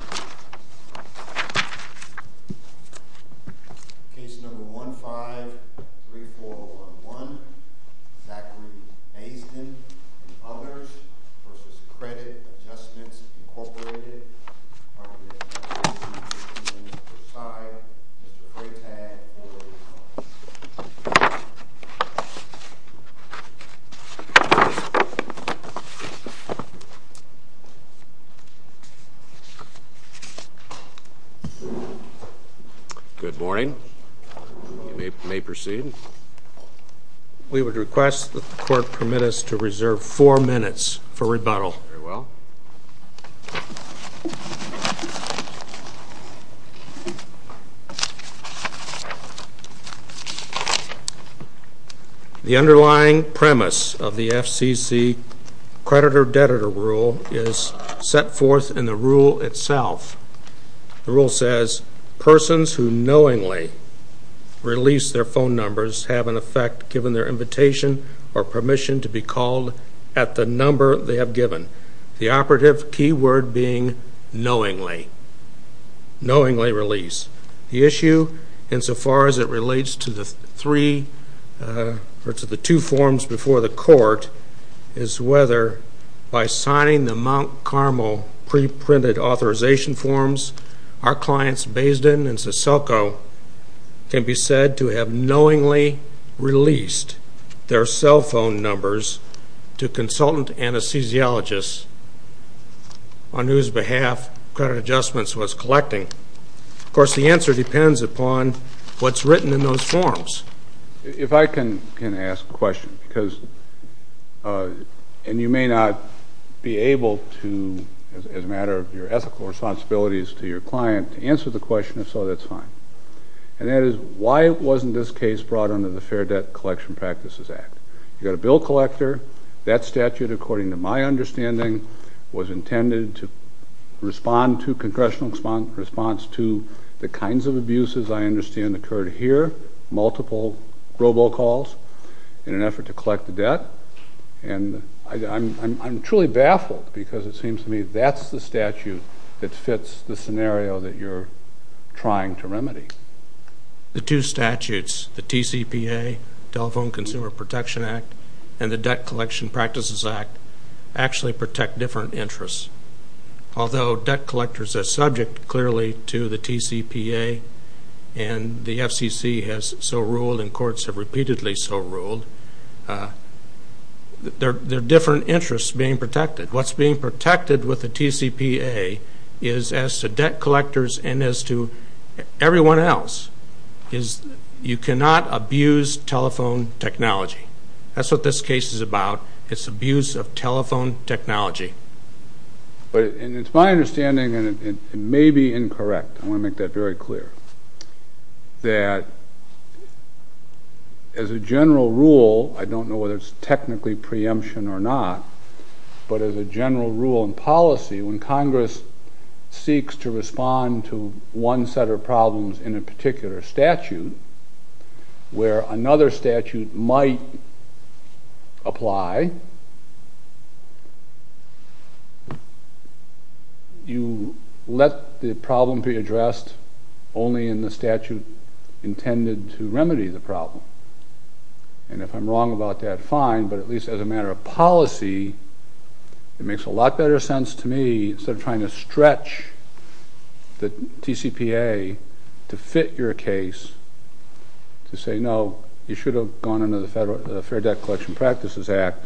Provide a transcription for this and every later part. v. Credit Adjustments, Incorporated, Arboretum, and Preside, Mr. Craig Tagg, Board of Trustees. Good morning. You may proceed. We would request that the Court permit us to reserve four minutes for rebuttal. Very well. The underlying premise of the FCC creditor-deditor rule is set forth in the rule itself. The rule says, persons who knowingly release their phone numbers have, in effect, given their invitation or permission to be called at the number they have given. The operative key word being knowingly. Knowingly release. The issue, insofar as it relates to the two forms before the Court, is whether, by signing the Mount Carmel preprinted authorization forms, our clients, Baisden and Seselco, can be said to have knowingly released their cell phone numbers to consultant anesthesiologists on whose behalf Credit Adjustments was collecting. Of course, the answer depends upon what's written in those forms. If I can ask a question, because, and you may not be able to, as a matter of your ethical responsibilities to your client, to answer the question, if so, that's fine. And that is, why wasn't this case brought under the Fair Debt Collection Practices Act? You've got a bill collector, that statute, according to my understanding, was intended to respond to congressional response to the kinds of abuses I understand occurred here, multiple robocalls in an effort to collect the debt. And I'm truly baffled because it seems to me that's the statute that fits the scenario that you're trying to remedy. The two statutes, the TCPA, Telephone Consumer Protection Act, and the Debt Collection Practices Act, actually protect different interests. Although debt collectors are subject clearly to the TCPA and the FCC has so ruled and courts have repeatedly so ruled, they're different interests being protected. What's being protected with the TCPA is, as to debt collectors and as to everyone else, is you cannot abuse telephone technology. That's what this case is about. It's abuse of telephone technology. And it's my understanding, and it may be incorrect, I want to make that very clear, that as a general rule, I don't know whether it's technically preemption or not, but as a general rule and policy, when Congress seeks to respond to one set of problems in a particular statute, where another statute might apply, you let the problem be addressed only in the statute intended to remedy the problem. And if I'm wrong about that, fine, but at least as a matter of policy, it makes a lot better sense to me, instead of trying to stretch the TCPA to fit your case, to say, no, you should have gone under the Fair Debt Collection Practices Act,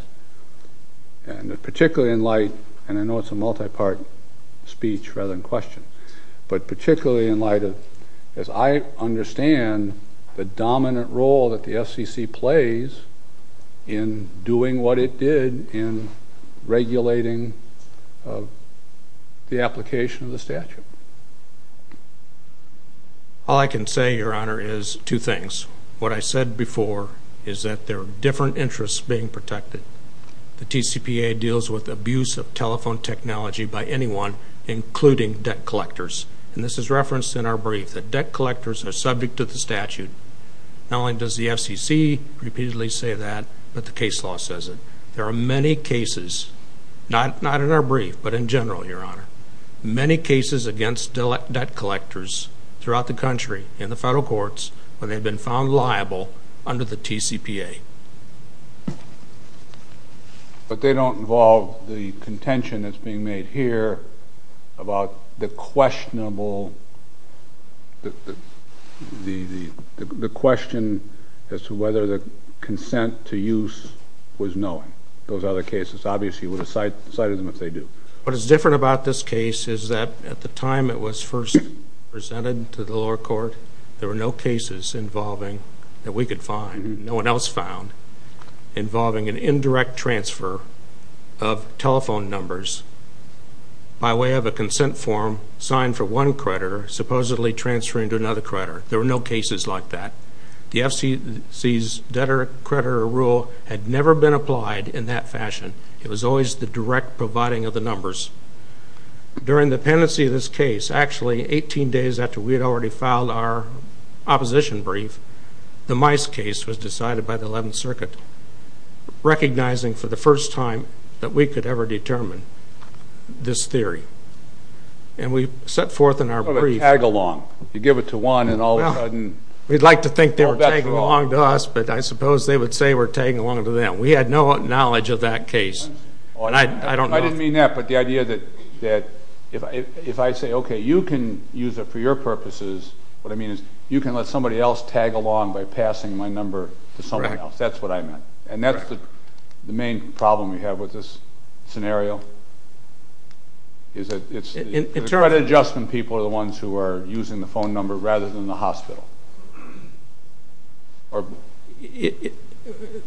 and particularly in light, and I know it's a multi-part speech rather than question, but particularly in light of, as I understand, the dominant role that the FCC plays in doing what it did in regulating the application of the statute. All I can say, Your Honor, is two things. What I said before is that there are different interests being protected. The TCPA deals with abuse of telephone technology by anyone, including debt collectors. And this is referenced in our brief, that debt collectors are subject to the statute. Not only does the FCC repeatedly say that, but the case law says it. There are many cases, not in our brief, but in general, Your Honor, many cases against debt collectors throughout the country in the federal courts when they've been found liable under the TCPA. But they don't involve the contention that's being made here about the questionable, the question as to whether the consent to use was knowing. Those other cases obviously would have cited them if they do. What is different about this case is that at the time it was first presented to the lower court, there were no cases involving that we could find, no one else found, involving an indirect transfer of telephone numbers by way of a consent form signed for one creditor supposedly transferring to another creditor. There were no cases like that. The FCC's debtor-creditor rule had never been applied in that fashion. It was always the direct providing of the numbers. During the pendency of this case, actually 18 days after we had already filed our opposition brief, the Mice case was decided by the 11th Circuit, recognizing for the first time that we could ever determine this theory. And we set forth in our brief. A tag along. You give it to one and all of a sudden. We'd like to think they were tagging along to us, but I suppose they would say we're tagging along to them. We had no knowledge of that case. I didn't mean that, but the idea that if I say, okay, you can use it for your purposes, what I mean is you can let somebody else tag along by passing my number to someone else. That's what I meant. And that's the main problem we have with this scenario. It's the credit adjustment people are the ones who are using the phone number rather than the hospital.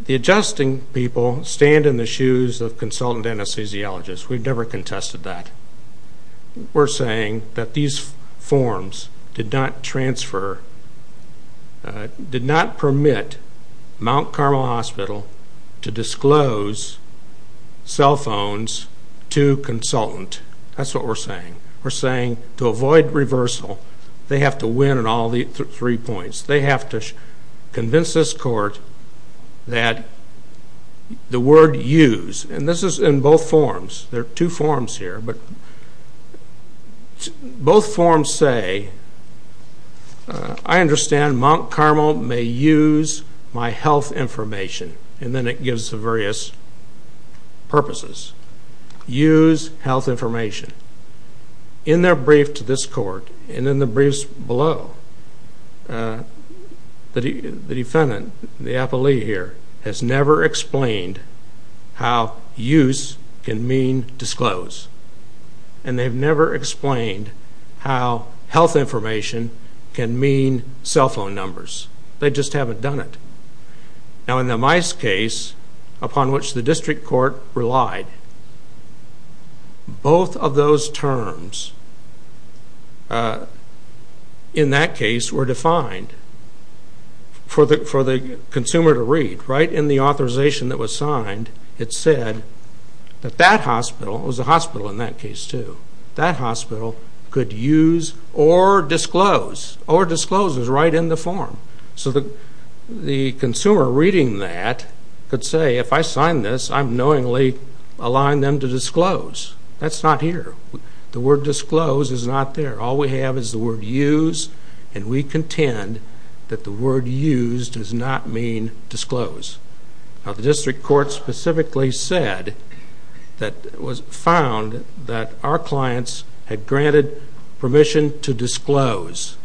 The adjusting people stand in the shoes of consultant anesthesiologists. We've never contested that. We're saying that these forms did not transfer, did not permit Mount Carmel Hospital to disclose cell phones to consultant. That's what we're saying. We're saying to avoid reversal, they have to win in all three points. They have to convince this court that the word use, and this is in both forms. There are two forms here, but both forms say, I understand Mount Carmel may use my health information. And then it gives the various purposes. Use health information. In their brief to this court, and in the briefs below, the defendant, the appellee here, has never explained how use can mean disclose. And they've never explained how health information can mean cell phone numbers. They just haven't done it. Now in the Mice case, upon which the district court relied, both of those terms in that case were defined for the consumer to read. Right in the authorization that was signed, it said that that hospital, it was a hospital in that case too, that hospital could use or disclose, or disclose is right in the form. So the consumer reading that could say, if I sign this, I'm knowingly allowing them to disclose. That's not here. The word disclose is not there. All we have is the word use, and we contend that the word use does not mean disclose. Now the district court specifically said that it was found that our clients had granted permission to disclose.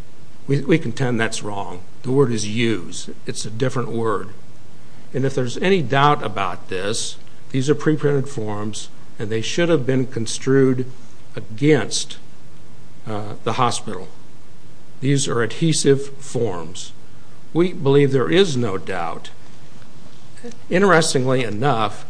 We contend that's wrong. The word is use. It's a different word. And if there's any doubt about this, these are preprinted forms, and they should have been construed against the hospital. These are adhesive forms. We believe there is no doubt. Interestingly enough,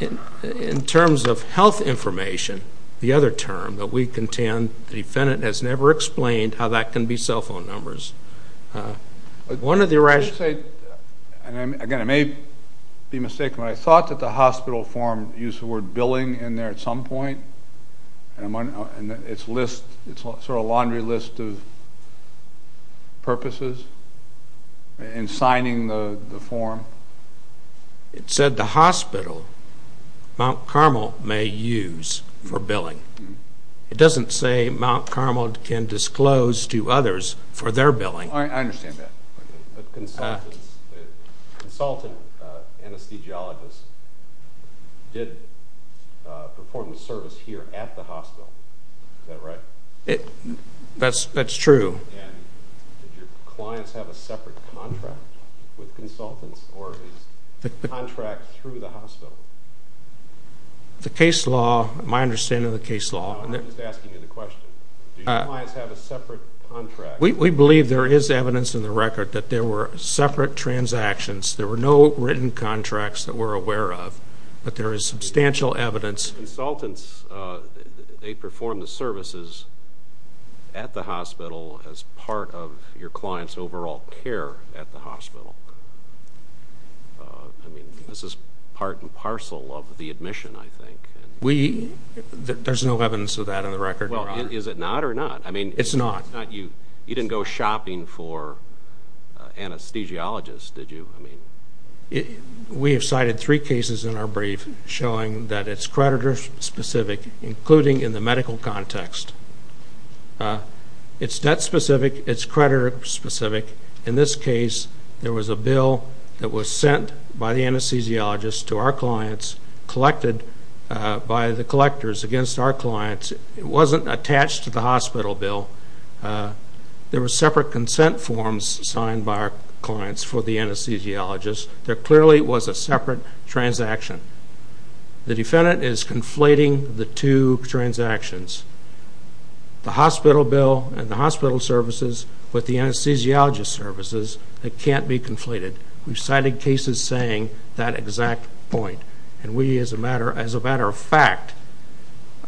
in terms of health information, the other term that we contend, the defendant has never explained how that can be cell phone numbers. Again, I may be mistaken, but I thought that the hospital form used the word billing in there at some point, and it's sort of a laundry list of purposes in signing the form. It said the hospital, Mount Carmel, may use for billing. It doesn't say Mount Carmel can disclose to others for their billing. I understand that. But consultant anesthesiologists did perform the service here at the hospital. Is that right? That's true. And did your clients have a separate contract with consultants, or is the contract through the hospital? The case law, my understanding of the case law. No, I'm just asking you the question. Do your clients have a separate contract? We believe there is evidence in the record that there were separate transactions. There were no written contracts that we're aware of, but there is substantial evidence. Consultants, they perform the services at the hospital as part of your client's overall care at the hospital. I mean, this is part and parcel of the admission, I think. There's no evidence of that in the record. Well, is it not or not? It's not. You didn't go shopping for anesthesiologists, did you? We have cited three cases in our brief showing that it's creditor-specific, including in the medical context. It's debt-specific. It's creditor-specific. In this case, there was a bill that was sent by the anesthesiologist to our clients, collected by the collectors against our clients. It wasn't attached to the hospital bill. There were separate consent forms signed by our clients for the anesthesiologist. There clearly was a separate transaction. The defendant is conflating the two transactions. The hospital bill and the hospital services with the anesthesiologist services, they can't be conflated. We've cited cases saying that exact point, and we, as a matter of fact,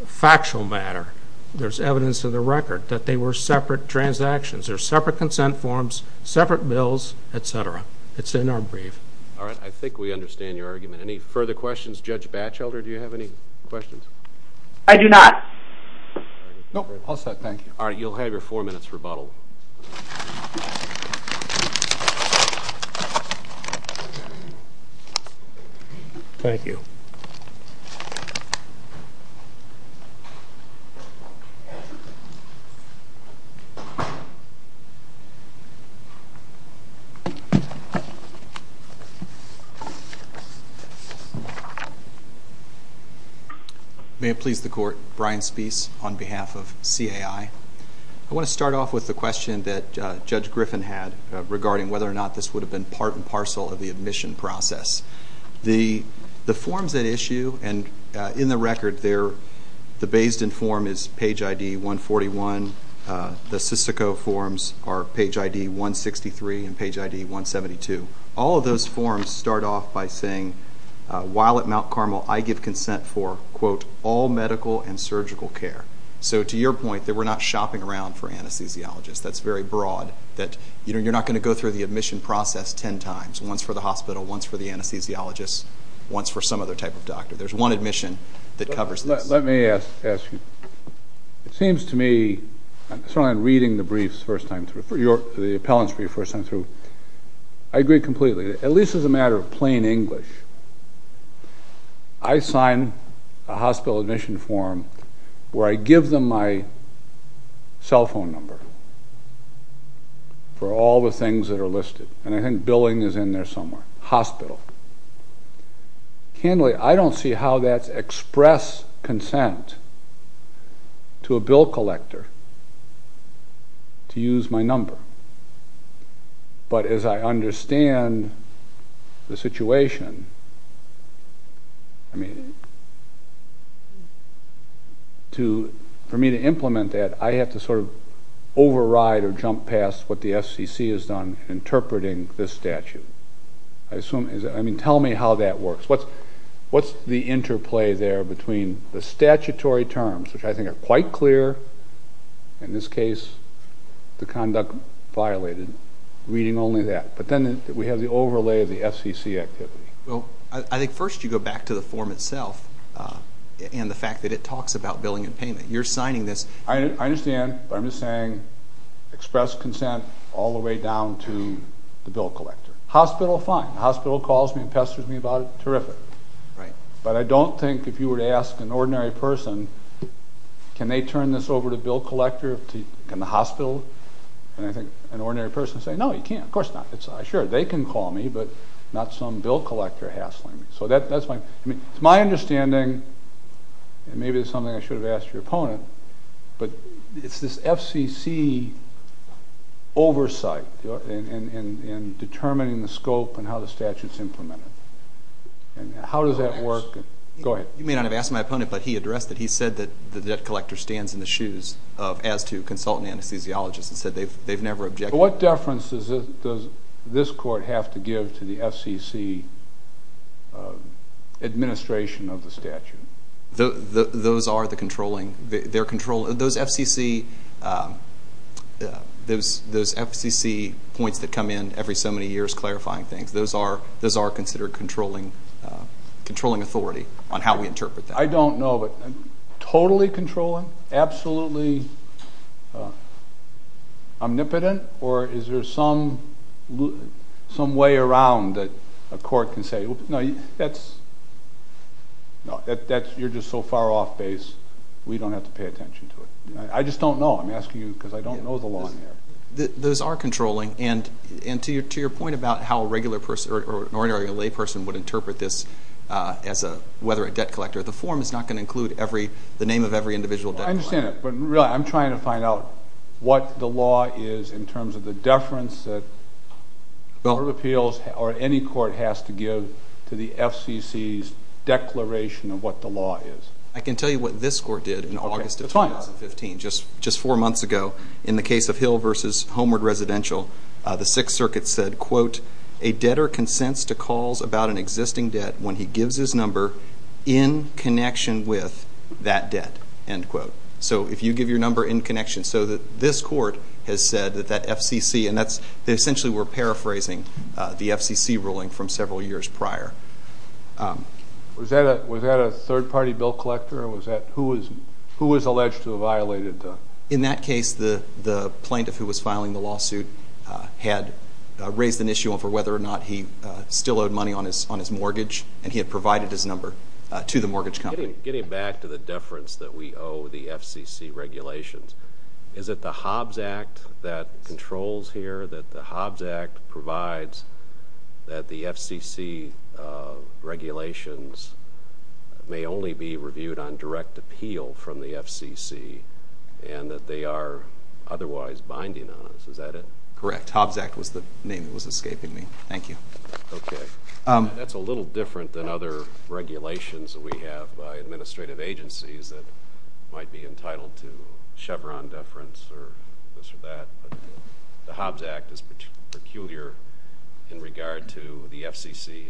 factual matter, there's evidence in the record that they were separate transactions. They're separate consent forms, separate bills, et cetera. It's in our brief. All right. I think we understand your argument. Any further questions? Judge Batchelder, do you have any questions? I do not. Nope. All set. Thank you. All right. You'll have your four minutes rebuttal. Thank you. May it please the Court. Brian Speece on behalf of CAI. I want to start off with the question that Judge Griffin had regarding whether or not this would have been part and parcel of the admission process. The forms at issue and in the record, the based-in form is page ID 141. The Sysico forms are page ID 163 and page ID 172. All of those forms start off by saying, while at Mount Carmel, I give consent for, quote, all medical and surgical care. So to your point, that we're not shopping around for anesthesiologists, that's very broad, that you're not going to go through the admission process ten times, once for the hospital, once for the anesthesiologist, once for some other type of doctor. There's one admission that covers this. Let me ask you. It seems to me, certainly in reading the briefs the first time through, the appellants for your first time through, I agree completely, at least as a matter of plain English. I sign a hospital admission form where I give them my cell phone number for all the things that are listed. And I think billing is in there somewhere. Hospital. Candidly, I don't see how that's express consent to a bill collector to use my number. But as I understand the situation, I mean, for me to implement that, I have to sort of override or jump past what the FCC has done interpreting this statute. I assume, I mean, tell me how that works. What's the interplay there between the statutory terms, which I think are quite clear, in this case the conduct violated, reading only that. But then we have the overlay of the FCC activity. Well, I think first you go back to the form itself and the fact that it talks about billing and payment. You're signing this. I understand, but I'm just saying express consent all the way down to the bill collector. Hospital, fine. The hospital calls me and pesters me about it. Terrific. But I don't think if you were to ask an ordinary person, can they turn this over to bill collector, can the hospital, and I think an ordinary person would say, no, you can't. Of course not. Sure, they can call me, but not some bill collector hassling me. It's my understanding, and maybe it's something I should have asked your opponent, but it's this FCC oversight in determining the scope and how the statute's implemented. How does that work? Go ahead. You may not have asked my opponent, but he addressed it. He said that the debt collector stands in the shoes as to consultant anesthesiologists and said they've never objected. So what deference does this court have to give to the FCC administration of the statute? Those are the controlling, those FCC points that come in every so many years clarifying things, those are considered controlling authority on how we interpret that. I don't know, but totally controlling, absolutely omnipotent, or is there some way around that a court can say, no, you're just so far off base, we don't have to pay attention to it. I just don't know. I'm asking you because I don't know the law in there. Those are controlling, and to your point about how an ordinary layperson would interpret this as whether a debt collector, the form is not going to include the name of every individual debt collector. I understand that, but really I'm trying to find out what the law is in terms of the deference that court of appeals or any court has to give to the FCC's declaration of what the law is. I can tell you what this court did in August of 2015, just four months ago, in the case of Hill v. Homeward Residential. The Sixth Circuit said, quote, a debtor consents to calls about an existing debt when he gives his number in connection with that debt, end quote. So if you give your number in connection so that this court has said that that FCC, and that's essentially we're paraphrasing the FCC ruling from several years prior. Was that a third-party bill collector? Who was alleged to have violated? In that case, the plaintiff who was filing the lawsuit had raised an issue over whether or not he still owed money on his mortgage, and he had provided his number to the mortgage company. Getting back to the deference that we owe the FCC regulations, is it the Hobbs Act that controls here, that the Hobbs Act provides that the FCC regulations may only be reviewed on direct appeal from the FCC, and that they are otherwise binding on us? Is that it? Correct. Hobbs Act was the name that was escaping me. Thank you. Okay. That's a little different than other regulations that we have by administrative agencies that might be entitled to Chevron deference or this or that. The Hobbs Act is peculiar in regard to the FCC.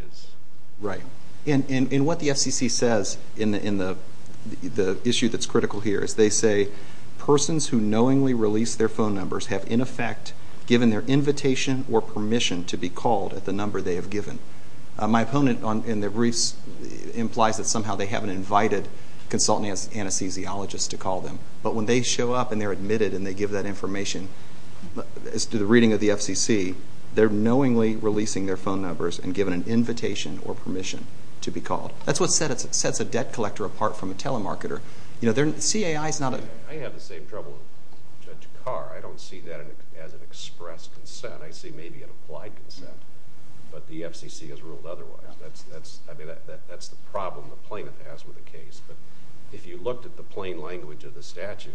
Right. And what the FCC says in the issue that's critical here is they say, persons who knowingly release their phone numbers have in effect given their invitation or permission to be called at the number they have given. My opponent in the briefs implies that somehow they haven't invited consultants and anesthesiologists to call them, but when they show up and they're admitted and they give that information as to the reading of the FCC, they're knowingly releasing their phone numbers and given an invitation or permission to be called. That's what sets a debt collector apart from a telemarketer. CAI is not a... I have the same trouble with Judge Carr. I don't see that as an express consent. I see maybe an applied consent, but the FCC has ruled otherwise. That's the problem the plaintiff has with the case. But if you looked at the plain language of the statute,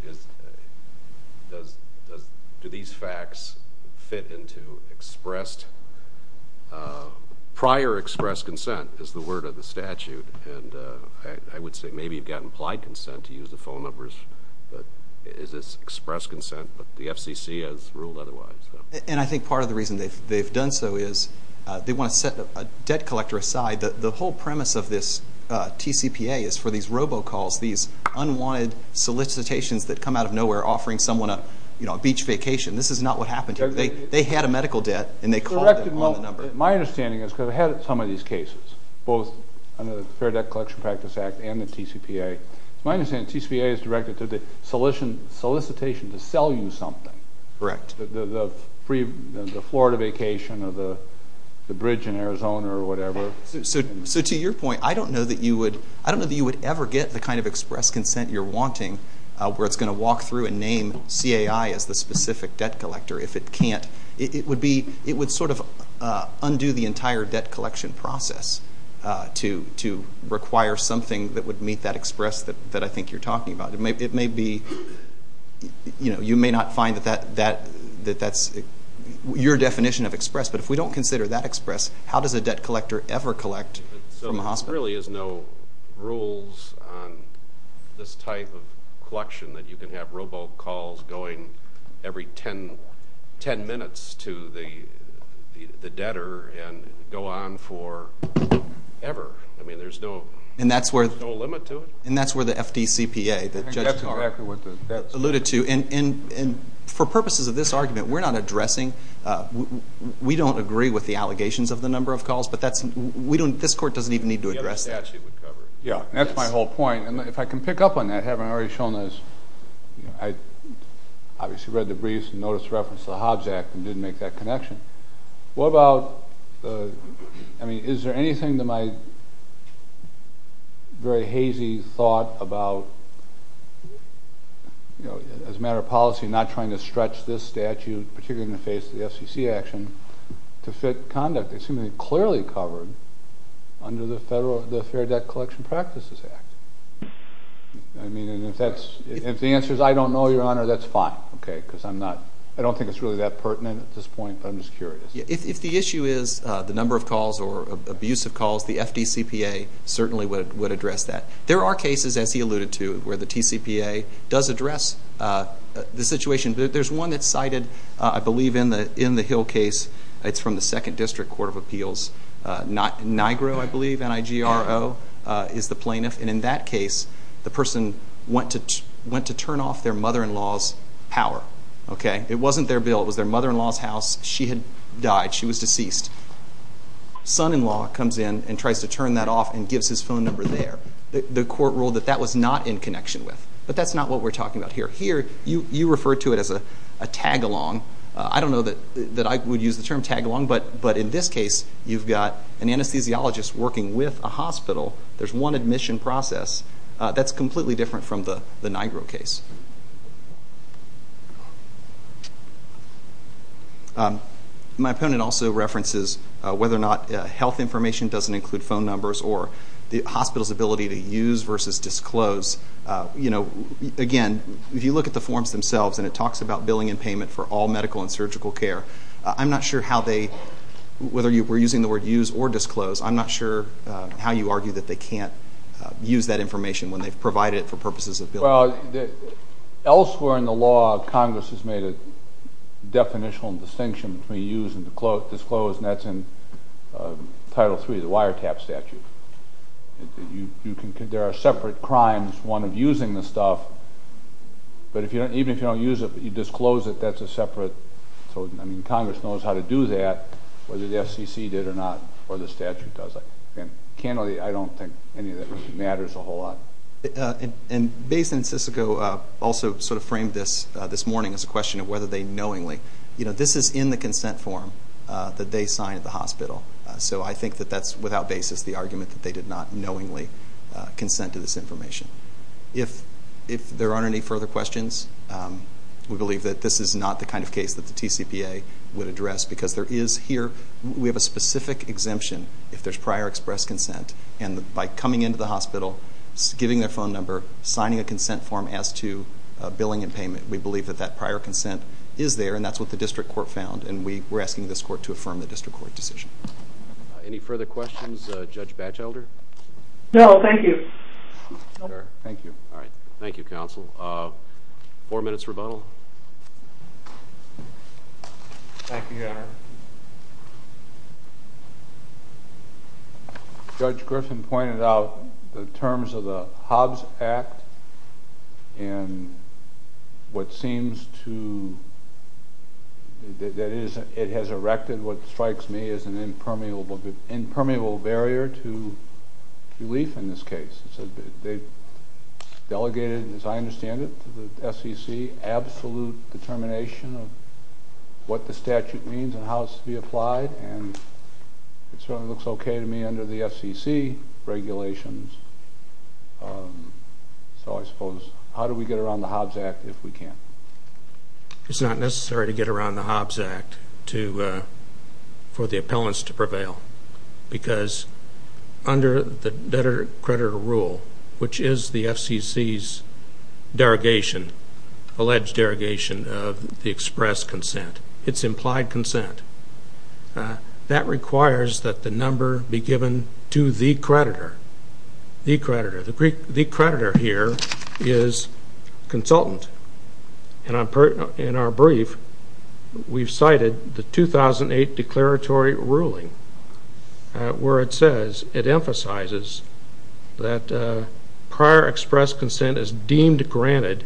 do these facts fit into expressed? Prior express consent is the word of the statute, and I would say maybe you've got implied consent to use the phone numbers, but is this express consent, but the FCC has ruled otherwise. And I think part of the reason they've done so is they want to set a debt collector aside. The whole premise of this TCPA is for these robocalls, these unwanted solicitations that come out of nowhere offering someone a beach vacation. This is not what happened here. They had a medical debt, and they called them on the number. My understanding is, because I've had some of these cases, both under the Fair Debt Collection Practice Act and the TCPA, my understanding is the TCPA is directed to the solicitation to sell you something. Correct. The Florida vacation or the bridge in Arizona or whatever. So to your point, I don't know that you would ever get the kind of express consent you're wanting where it's going to walk through and name CAI as the specific debt collector if it can't. It would sort of undo the entire debt collection process to require something that would meet that express that I think you're talking about. It may be you may not find that that's your definition of express, but if we don't consider that express, how does a debt collector ever collect from a hospital? So there really is no rules on this type of collection that you can have robocalls going every 10 minutes to the debtor and go on forever. I mean, there's no limit to it? And that's where the FDCPA that Judge Carl alluded to. And for purposes of this argument, we're not addressing, we don't agree with the allegations of the number of calls, but this court doesn't even need to address that. Yeah, and that's my whole point. And if I can pick up on that, having already shown this, I obviously read the briefs and noticed reference to the Hobbs Act and didn't make that connection. What about, I mean, is there anything to my very hazy thought about, as a matter of policy, not trying to stretch this statute, particularly in the face of the FCC action, to fit conduct? It's clearly covered under the Fair Debt Collection Practices Act. I mean, if the answer is I don't know, Your Honor, that's fine. I don't think it's really that pertinent at this point, but I'm just curious. If the issue is the number of calls or abuse of calls, the FDCPA certainly would address that. There are cases, as he alluded to, where the TCPA does address the situation. There's one that's cited, I believe, in the Hill case. It's from the Second District Court of Appeals. Nigro, I believe, N-I-G-R-O, is the plaintiff. And in that case, the person went to turn off their mother-in-law's power. It wasn't their bill. It was their mother-in-law's house. She had died. She was deceased. Son-in-law comes in and tries to turn that off and gives his phone number there. The court ruled that that was not in connection with. But that's not what we're talking about here. Here, you refer to it as a tag-along. I don't know that I would use the term tag-along, but in this case, you've got an anesthesiologist working with a hospital. There's one admission process. That's completely different from the Nigro case. My opponent also references whether or not health information doesn't include phone numbers or the hospital's ability to use versus disclose. Again, if you look at the forms themselves, and it talks about billing and payment for all medical and surgical care, I'm not sure how they, whether you were using the word use or disclose, I'm not sure how you argue that they can't use that information when they've provided it for purposes of billing. Well, elsewhere in the law, Congress has made a definitional distinction between use and disclose, and that's in Title III, the wiretap statute. There are separate crimes, one of using the stuff, but even if you don't use it but you disclose it, that's a separate. Congress knows how to do that, whether the FCC did it or not, or the statute does it. Candidly, I don't think any of that matters a whole lot. And Bayes and Sissico also sort of framed this this morning as a question of whether they knowingly. This is in the consent form that they signed at the hospital, so I think that that's without basis the argument that they did not knowingly consent to this information. If there aren't any further questions, we believe that this is not the kind of case that the TCPA would address because there is here, we have a specific exemption if there's prior express consent, and by coming into the hospital, giving their phone number, signing a consent form as to billing and payment, we believe that that prior consent is there, and that's what the district court found, and we're asking this court to affirm the district court decision. Any further questions, Judge Batchelder? No, thank you. All right, thank you, counsel. Four minutes rebuttal. Thank you, Your Honor. Judge Griffin pointed out the terms of the Hobbs Act, and what seems to, that it has erected what strikes me as an impermeable barrier to relief in this case. They delegated, as I understand it, to the FCC absolute determination of what the statute means and how it's to be applied, and it certainly looks okay to me under the FCC regulations, so I suppose how do we get around the Hobbs Act if we can? It's not necessary to get around the Hobbs Act for the appellants to prevail because under the debtor-creditor rule, which is the FCC's derogation, alleged derogation of the express consent, it's implied consent, that requires that the number be given to the creditor. The creditor here is consultant, and in our brief, we've cited the 2008 declaratory ruling where it says, it emphasizes that prior express consent is deemed granted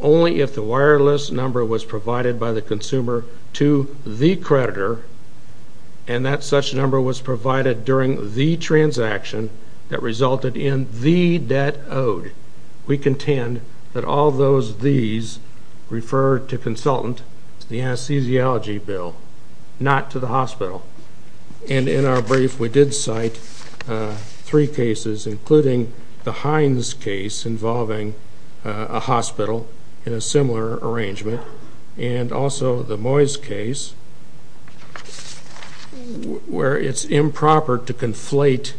only if the wireless number was provided by the consumer to the creditor and that such number was provided during the transaction that resulted in the debt owed. We contend that all those these refer to consultant, the anesthesiology bill, not to the hospital. And in our brief, we did cite three cases, including the Hines case involving a hospital in a similar arrangement and also the Moyes case where it's improper to conflate,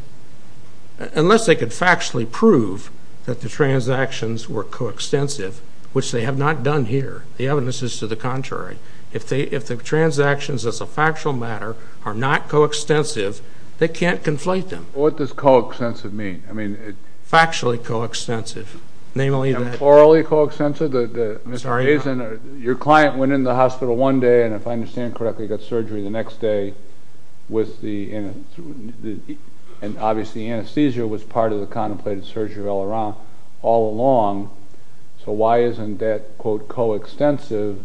unless they could factually prove that the transactions were co-extensive, which they have not done here. The evidence is to the contrary. If the transactions as a factual matter are not co-extensive, they can't conflate them. What does co-extensive mean? Factually co-extensive, namely that... Plurally co-extensive? Sorry? Your client went in the hospital one day, and if I understand correctly, got surgery the next day with the... and obviously anesthesia was part of the contemplated surgery all along, so why isn't that, quote, co-extensive?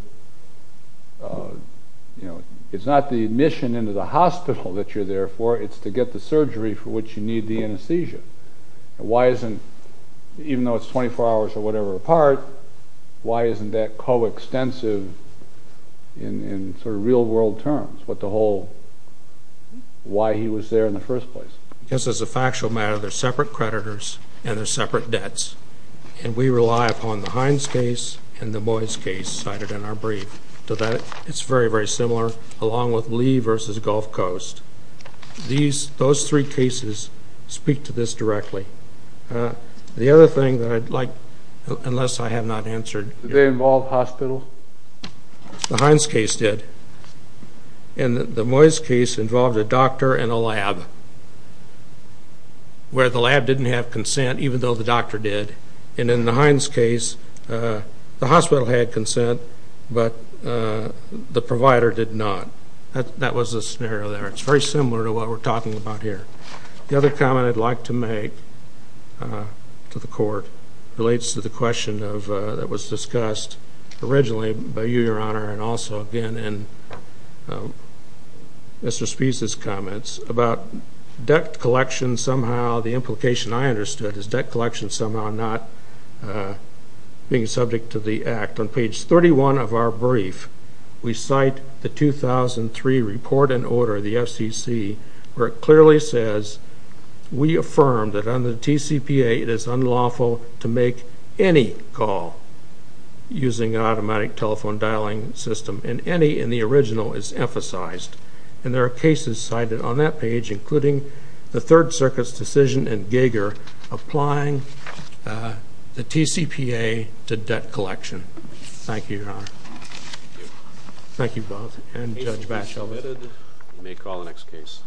It's not the admission into the hospital that you're there for, it's to get the surgery for which you need the anesthesia. Why isn't, even though it's 24 hours or whatever apart, why isn't that co-extensive in sort of real-world terms with the whole why he was there in the first place? Because as a factual matter, they're separate creditors and they're separate debts, and we rely upon the Hines case and the Moyes case cited in our brief. So that is very, very similar, along with Lee v. Gulf Coast. Those three cases speak to this directly. The other thing that I'd like, unless I have not answered... Did they involve hospitals? The Hines case did. And the Moyes case involved a doctor and a lab, where the lab didn't have consent, even though the doctor did. And in the Hines case, the hospital had consent, but the provider did not. That was the scenario there. It's very similar to what we're talking about here. The other comment I'd like to make to the Court relates to the question that was discussed originally by you, Your Honor, and also again in Mr. Spee's comments about debt collection somehow. The implication I understood is debt collection somehow not being subject to the Act. On page 31 of our brief, we cite the 2003 report and order of the FCC where it clearly says, we affirm that under the TCPA it is unlawful to make any call using an automatic telephone dialing system, and any in the original is emphasized. And there are cases cited on that page, including the Third Circuit's decision in Gager applying the TCPA to debt collection. Thank you, Your Honor. Thank you. Thank you both. And the case has been submitted. We may call the next case.